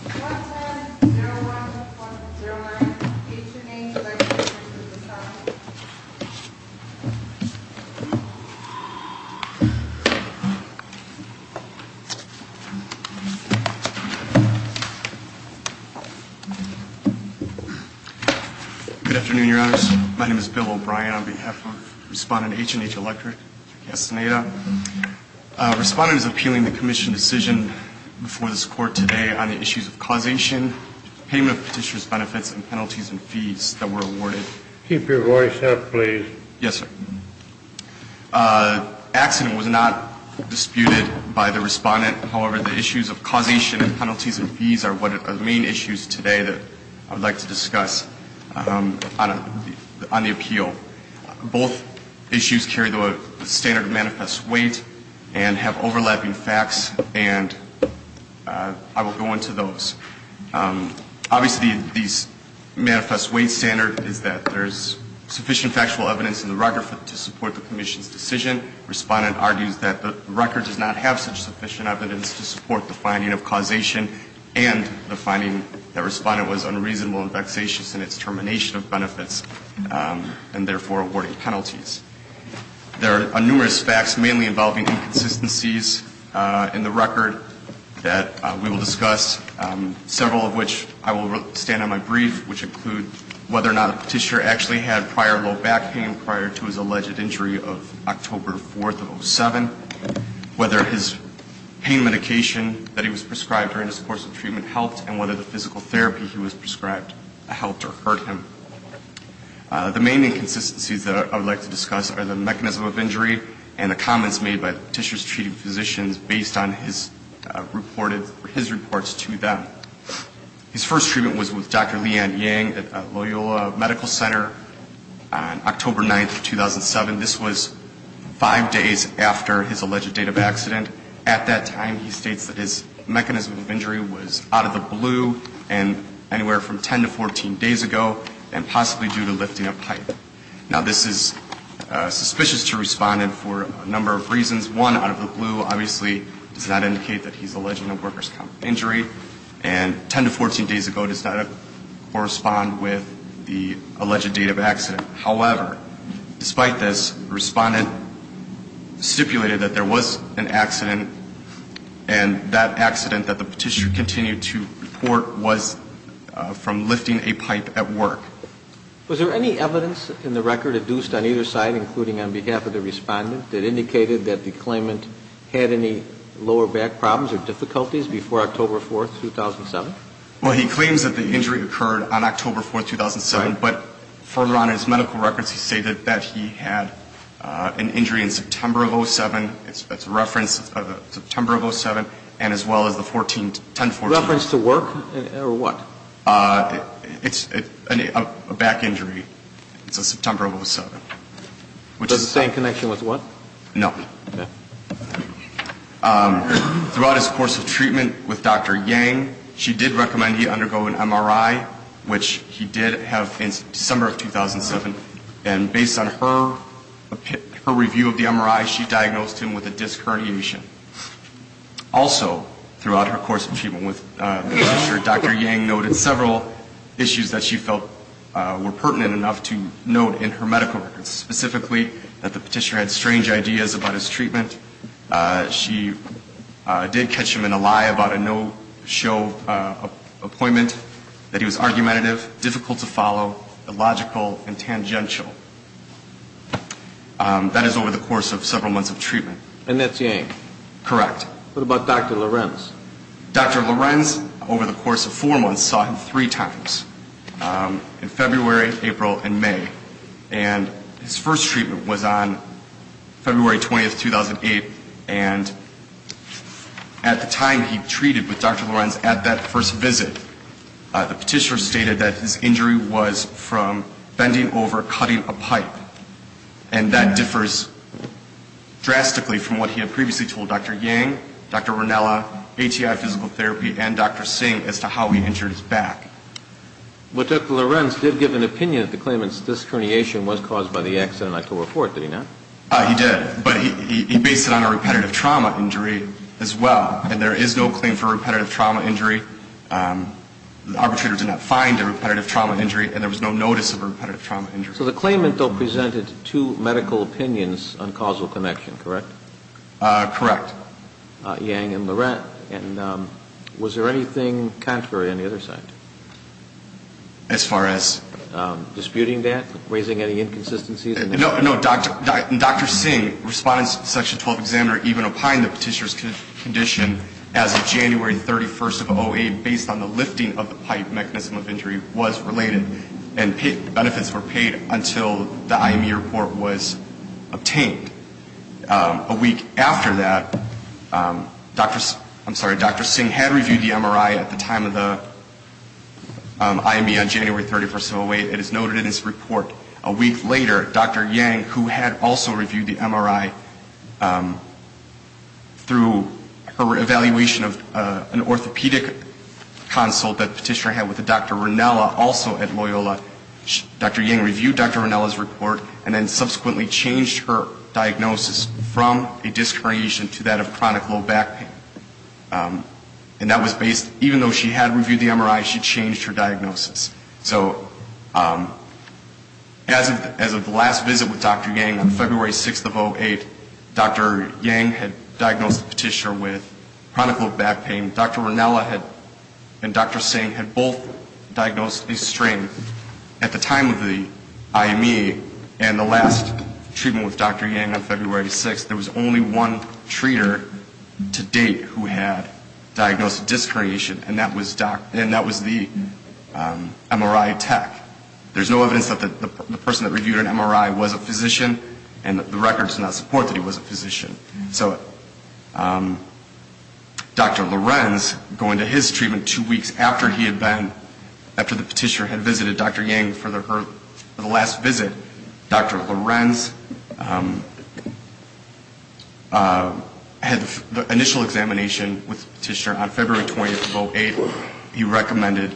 1-10-01-1-09 H & H Electric v. Castaneda Good afternoon, Your Honors. My name is Bill O'Brien on behalf of Respondent H & H Electric, Castaneda. Respondent is appealing the Commission decision before this Court today on the issues of causation, payment of petitioner's benefits, and penalties and fees that were awarded. Keep your voice up, please. Yes, sir. Accident was not disputed by the Respondent. However, the issues of causation and penalties and fees are one of the main issues today that I would like to discuss on the appeal. Both issues carry the standard of manifest weight and have overlapping facts, and I will go into those. Obviously, this manifest weight standard is that there's sufficient factual evidence in the record to support the Commission's decision. Respondent argues that the record does not have such sufficient evidence to support the finding of causation and the finding that Respondent was unreasonable and vexatious in its termination of benefits. And therefore, awarding penalties. There are numerous facts, mainly involving inconsistencies in the record that we will discuss, several of which I will stand on my brief, which include whether or not the petitioner actually had prior low back pain prior to his alleged injury of October 4th of 2007, whether his pain medication that he was prescribed during his course of treatment helped, and whether the physical therapy he was prescribed helped or hurt him. The main inconsistencies that I would like to discuss are the mechanism of injury and the comments made by the petitioner's treating physicians based on his reports to them. His first treatment was with Dr. Lian Yang at Loyola Medical Center on October 9th of 2007. This was five days after his alleged date of accident. At that time, he states that his mechanism of injury was out of the blue and anywhere from 10 to 14 days ago and possibly due to lifting a pipe. Now, this is suspicious to Respondent for a number of reasons. One, out of the blue, obviously, does not indicate that he's alleging a workers' comp injury. And 10 to 14 days ago does not correspond with the alleged date of accident. However, despite this, Respondent stipulated that there was an accident, and that accident that the petitioner continued to report was from lifting a pipe at work. Was there any evidence in the record adduced on either side, including on behalf of the Respondent, that indicated that the claimant had any lower back problems or difficulties before October 4th, 2007? Well, he claims that the injury occurred on October 4th, 2007. But further on in his medical records, he stated that he had an injury in September of 07. That's a reference of September of 07, and as well as the 14th, 10th, 14th. A reference to work or what? It's a back injury. It's a September of 07. It has the same connection with what? No. Okay. Throughout his course of treatment with Dr. Yang, she did recommend he undergo an MRI, which he did have in December of 2007. And based on her review of the MRI, she diagnosed him with a disc herniation. Also throughout her course of treatment with the petitioner, Dr. Yang noted several issues that she felt were pertinent enough to note in her medical records, specifically that the petitioner had strange ideas about his treatment. She did catch him in a lie about a no-show appointment, that he was argumentative, difficult to follow, illogical, and tangential. That is over the course of several months of treatment. And that's Yang? Correct. What about Dr. Lorenz? Dr. Lorenz, over the course of four months, saw him three times in February, April, and May. And his first treatment was on February 20, 2008. And at the time he treated with Dr. Lorenz at that first visit, the petitioner stated that his injury was from bending over, cutting a pipe. And that differs drastically from what he had previously told Dr. Yang, Dr. Ranella, ATI Physical Therapy, and Dr. Singh as to how he injured his back. But Dr. Lorenz did give an opinion that the claimant's disc herniation was caused by the accident on October 4th, did he not? He did. But he based it on a repetitive trauma injury as well. And there is no claim for repetitive trauma injury. The arbitrator did not find a repetitive trauma injury, and there was no notice of repetitive trauma injury. So the claimant, though, presented two medical opinions on causal connection, correct? Correct. Dr. Ranella, Yang, and Lorenz, was there anything contrary on the other side? As far as? Disputing that, raising any inconsistencies? No. Dr. Singh responded to Section 12 examiner even opined the petitioner's condition as of January 31st of 08, based on the lifting of the pipe mechanism of injury, was related, and benefits were paid until the IME report was obtained. A week after that, I'm sorry, Dr. Singh had reviewed the MRI at the time of the IME on January 31st of 08. It is noted in his report. A week later, Dr. Yang, who had also reviewed the MRI through her evaluation of an orthopedic consult that petitioner had with Dr. Ranella also at Loyola, Dr. Yang reviewed Dr. Ranella's report and then subsequently changed her diagnosis from a disc herniation to that of chronic low back pain. And that was based, even though she had reviewed the MRI, she changed her diagnosis. So as of the last visit with Dr. Yang on February 6th of 08, Dr. Yang had diagnosed the petitioner with chronic low back pain. Dr. Ranella and Dr. Singh had both diagnosed a strain at the time of the IME and the last treatment with Dr. Yang on February 6th. There was only one treater to date who had diagnosed a disc herniation, and that was the MRI tech. There's no evidence that the person that reviewed an MRI was a physician, and the records do not support that he was a physician. So Dr. Lorenz, going to his treatment two weeks after he had been, after the petitioner had visited Dr. Yang for the last visit, Dr. Lorenz had the initial examination with the petitioner on February 20th of 08. He recommended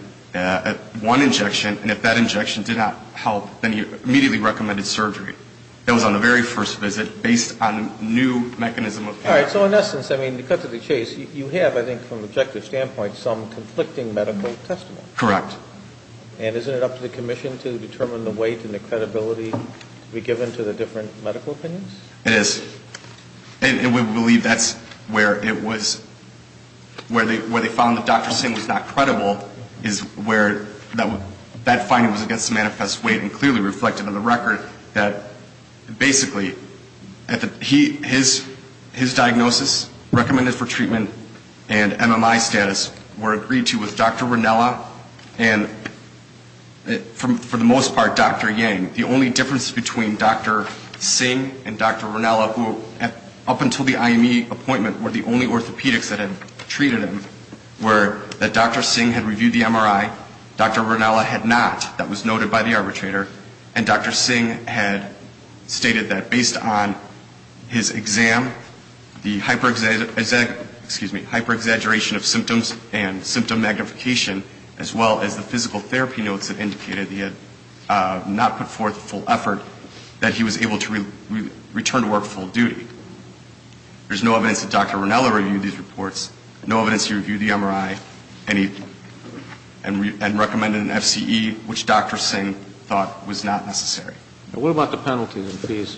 one injection, and if that injection did not help, then he immediately recommended surgery. That was on the very first visit, based on new mechanism of care. All right. So in essence, I mean, to cut to the chase, you have, I think, from an objective standpoint, some conflicting medical testimony. Correct. And isn't it up to the commission to determine the weight and the credibility to be given to the different medical opinions? It is. And we believe that's where it was, where they found that Dr. Singh was not credible, is where that finding was against the manifest weight, and clearly reflected on the record that basically, his diagnosis, recommended for treatment, and MMI status were agreed to with Dr. Ronella, and for the most part, Dr. Yang. The only difference between Dr. Singh and Dr. Ronella, who up until the IME appointment were the only orthopedics that had treated him, were that Dr. Ronella was not an orthopedic arbitrator, and Dr. Singh had stated that based on his exam, the hyper-exaggeration of symptoms and symptom magnification, as well as the physical therapy notes that indicated he had not put forth full effort, that he was able to return to work full duty. There's no evidence that Dr. Ronella reviewed these reports, no evidence he reviewed the MRI, and recommended an FCE, which Dr. Ronella thought was not necessary. And what about the penalties and fees?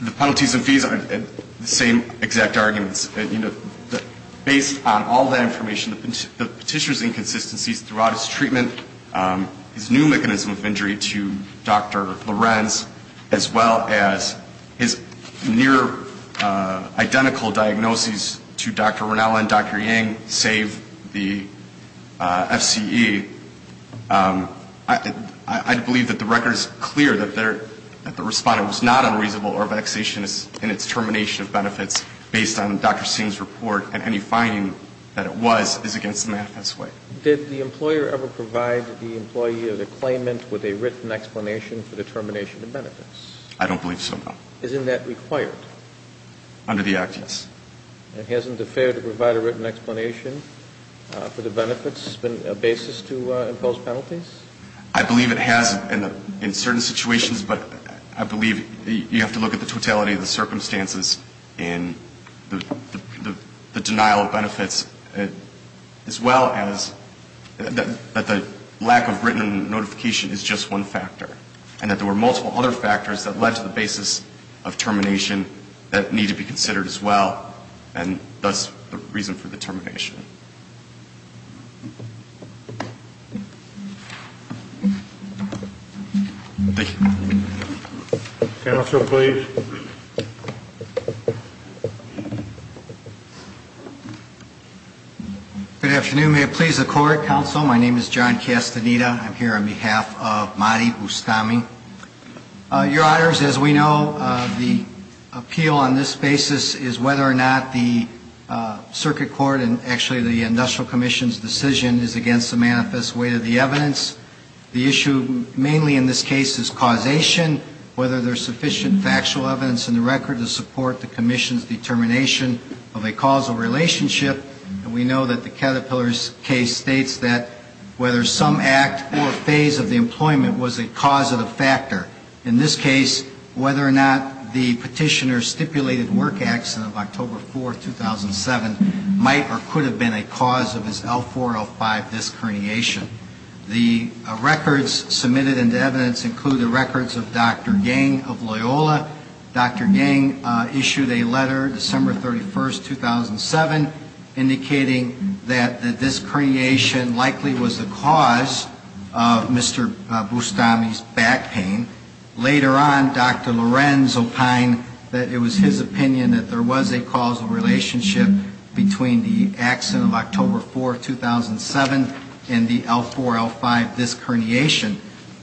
The penalties and fees, the same exact arguments. You know, based on all that information, the petitioner's inconsistencies throughout his treatment, his new mechanism of injury to Dr. Lorenz, as well as his near identical diagnoses to Dr. Ronella and Dr. Yang, save the FCE, I'd believe that Dr. Ronella was not an orthopedic arbitrator. But the record is clear that the respondent was not unreasonable or vexationist in its termination of benefits based on Dr. Singh's report, and any finding that it was is against the benefits. Did the employer ever provide the employee of the claimant with a written explanation for the termination of benefits? I don't believe so, no. Isn't that required? Under the Act, yes. And hasn't the fair to provide a written explanation for the benefits been a basis to impose penalties? I believe it has in certain situations, but I believe you have to look at the totality of the circumstances in the denial of benefits, as well as that the lack of written notification is just one factor, and that there were multiple other factors that led to the basis of termination that need to be considered as well. And that's the reason for the termination. Thank you. Counsel, please. Good afternoon. May it please the Court. Counsel, my name is John Castaneda. I'm here on behalf of Mahdi Boustami. Your Honors, as we know, the appeal on this basis is whether or not the Circuit Court, and actually the Industrial Commission's decision, is against the manifest weight of the evidence. The issue mainly in this case is causation, whether there's sufficient factual evidence in the record to support the Commission's determination of a causal relationship. And we know that the Caterpillar's case states that whether some act or phase of the employment was a cause of the fact, or whether there's sufficient factual evidence to support the Commission's determination of a causal relationship. In this case, whether or not the Petitioner's stipulated work accident of October 4, 2007, might or could have been a cause of his L4-L5 disc herniation. The records submitted into evidence include the records of Dr. Gang of Loyola. Dr. Gang issued a letter December 31, 2007, indicating that the disc herniation likely was the cause of Mr. Boustami's back pain. Later on, Dr. Lorenz opined that it was his opinion that there was a causal relationship between the accident of October 4, 2007 and the L4-L5 disc herniation.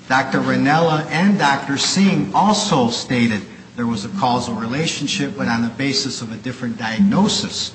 Dr. Ranella and Dr. Singh also stated there was a causal relationship, but on the basis of a different diagnosis.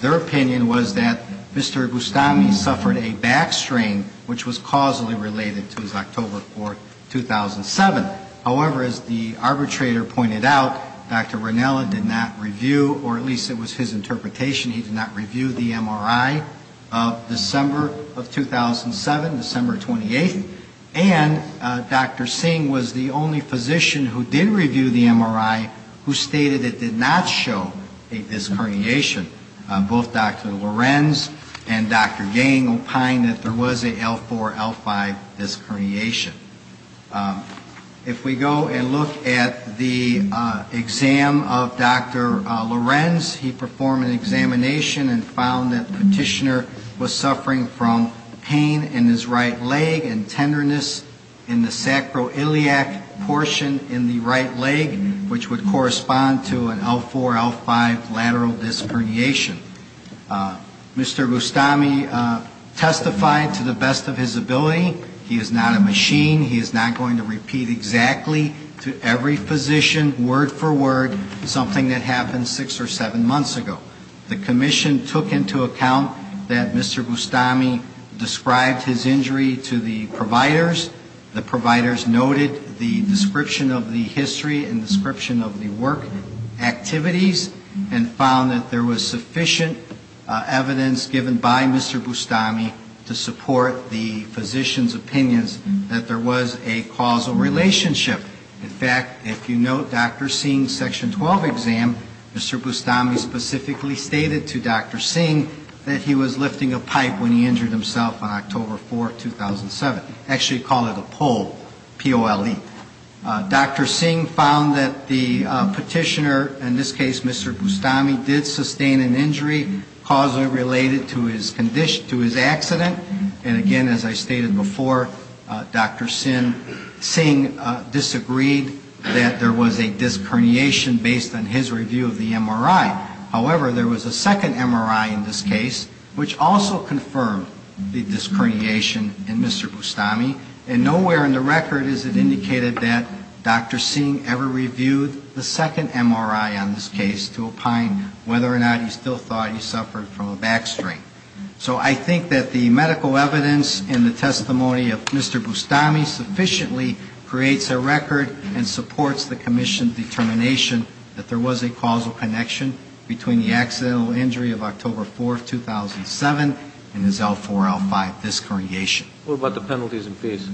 Their opinion was that Mr. Boustami suffered a back strain, which was causally related to his October 4, 2007 accident. However, as the arbitrator pointed out, Dr. Ranella did not review, or at least it was his interpretation, he did not review the MRI of December of 2007, December 28th, and Dr. Singh was the only physician who did review the MRI who stated it did not show a disc herniation. Both Dr. Lorenz and Dr. Gang opined that there was a L4-L5 disc herniation. If we go and look at the exam of Dr. Lorenz, he performed an examination and found that the petitioner was suffering from pain in his right leg and tenderness in the sacroiliac portion in the right leg, which would correspond to an L4-L5 lateral disc herniation. Mr. Boustami testified to the best of his ability. He is not a machine. He is not going to repeat exactly to every physician, word for word, something that happened six or seven months ago. The commission took into account that Mr. Boustami described his injury to the providers. The providers noted the description of the history and description of the work activities and found that there was sufficient evidence given by Mr. Boustami to support the physician's opinions that there was a causal relationship. In fact, if you note Dr. Singh's Section 12 exam, Mr. Boustami specifically stated to Dr. Singh that he was lifting a pipe when he injured himself on October 4th, 2007. Actually, he called it a pole, P-O-L-E. Dr. Singh found that the petitioner, in this case Mr. Boustami, did sustain an injury causally related to his condition, to his actions. And again, as I stated before, Dr. Singh disagreed that there was a disc herniation based on his review of the MRI. However, there was a second MRI in this case, which also confirmed the disc herniation in Mr. Boustami. And nowhere in the record is it indicated that Dr. Singh ever reviewed the second MRI on this case to opine whether or not he still thought he suffered from a back strain. So I think that the medical evidence and the testimony of Mr. Boustami sufficiently creates a record and supports the Commission's determination that there was a causal connection between the accidental injury of October 4th, 2007 and his L4-L5 disc herniation. What about the penalties and fees?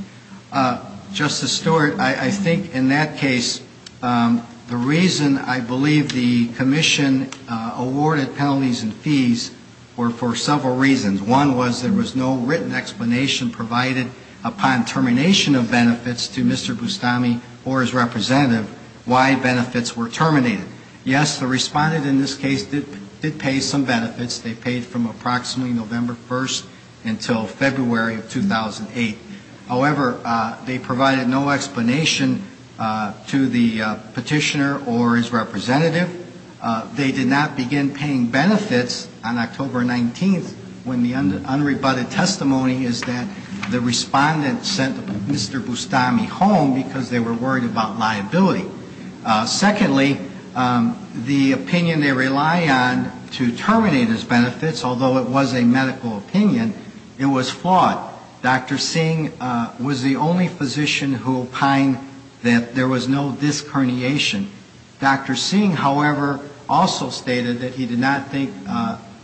Justice Stewart, I think in that case, the reason I believe the Commission awarded penalties and fees were for several reasons. One was there was no written explanation provided upon termination of benefits to Mr. Boustami or his representative why benefits were terminated. Yes, the respondent in this case did pay some benefits. They paid from approximately November 1st until February of 2008. However, they provided no explanation to the petitioner or his representative. They did not begin paying benefits on October 19th when the unrebutted testimony is that the respondent sent Mr. Boustami home because they were worried about liability. Secondly, the opinion they rely on to terminate his benefits, although it was a medical opinion, it was flawed. Dr. Singh was the only physician who opined that there was no disc herniation. Dr. Singh, however, also stated that he did not think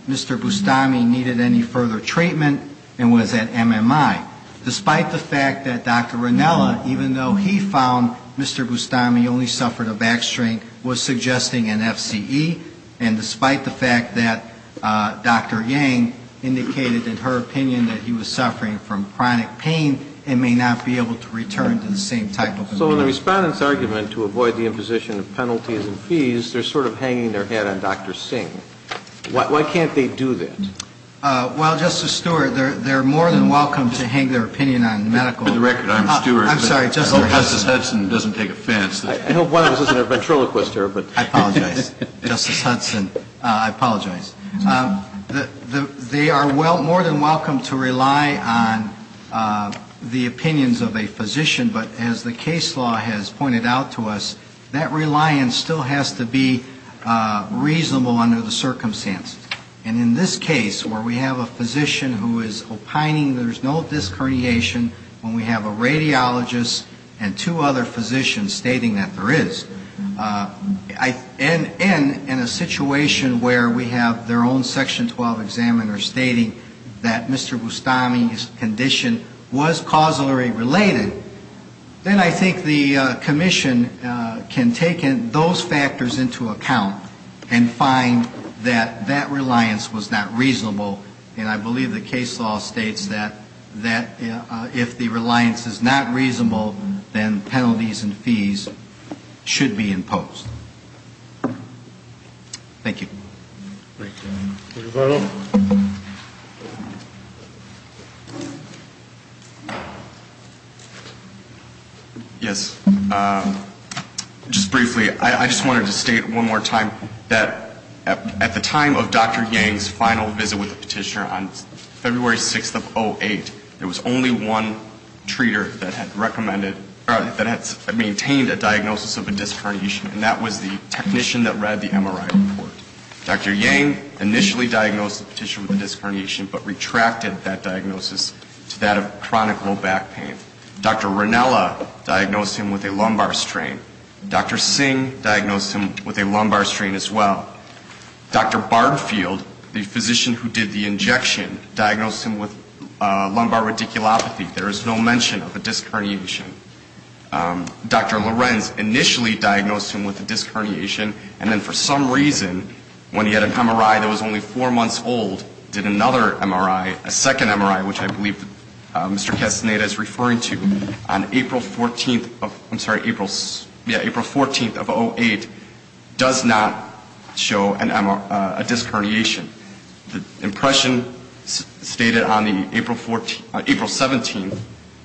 Mr. Boustami needed any further treatment and was at MMI. Despite the fact that Dr. Ranella, even though he found Mr. Boustami only suffered a back strain, was suggesting an FCE. And despite the fact that Dr. Yang indicated in her opinion that he was suffering from chronic pain and may not be able to return to the same type of impairment. So in the respondent's argument to avoid the imposition of penalties and fees, they're sort of hanging their head on Dr. Singh. Why can't they do that? Well, Justice Stewart, they're more than welcome to hang their opinion on medical. For the record, I'm Stewart. I hope Justice Hudson doesn't take offense. I hope one of us isn't a ventriloquist here. I apologize. Justice Hudson, I apologize. They are more than welcome to rely on the opinions of a physician. But as the case law has pointed out to us, that reliance still has to be reasonable under the circumstances. And in this case, where we have a physician who is opining there's no disc herniation, when we have a radiologist and two other physicians stating that there is, and in a situation where we have their own Section 12 examiner stating that Mr. Boustami's condition was causally related, then I think the commission can take those factors into account and find that that reliance was not reasonable. And I believe the case law states that if the reliance is not reasonable, then penalties and fees should be taken into account. And if the reliance is not reasonable, then the penalty should be imposed. Thank you. Yes. Just briefly. I just wanted to state one more time that at the time of Dr. Yang's final visit with the petitioner on February 6th of 08, there was only one patient with a disc herniation, and that was the technician that read the MRI report. Dr. Yang initially diagnosed the petitioner with a disc herniation, but retracted that diagnosis to that of chronic low back pain. Dr. Ranella diagnosed him with a lumbar strain. Dr. Singh diagnosed him with a lumbar strain as well. Dr. Bardfield, the physician who did the injection, diagnosed him with lumbar radiculopathy. There is no mention of a disc herniation. Dr. Singh diagnosed him with a disc herniation, and then for some reason, when he had an MRI that was only four months old, did another MRI, a second MRI, which I believe Mr. Castaneda is referring to, on April 14th of 08, does not show a disc herniation. The impression stated on the April 17th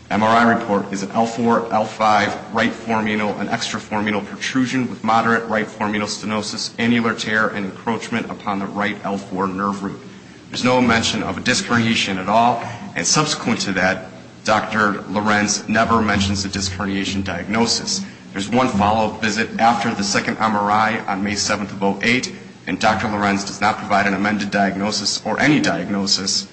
MRI report is an L4, L5 right foremanal and extra foremanal protrusion. With moderate right foremanal stenosis, annular tear and encroachment upon the right L4 nerve root. There is no mention of a disc herniation at all, and subsequent to that, Dr. Lorenz never mentions a disc herniation diagnosis. There is one follow-up visit after the second MRI on May 7th of 08, and Dr. Lorenz does not provide an amended diagnosis or any diagnosis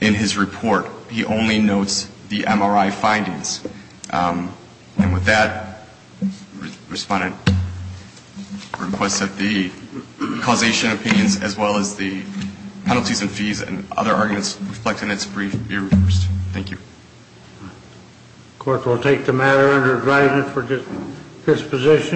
in his report. He only notes the MRI findings. And with that, respondent requests that the causation opinions as well as the penalties and fees and other arguments reflected in this brief be reversed. Thank you.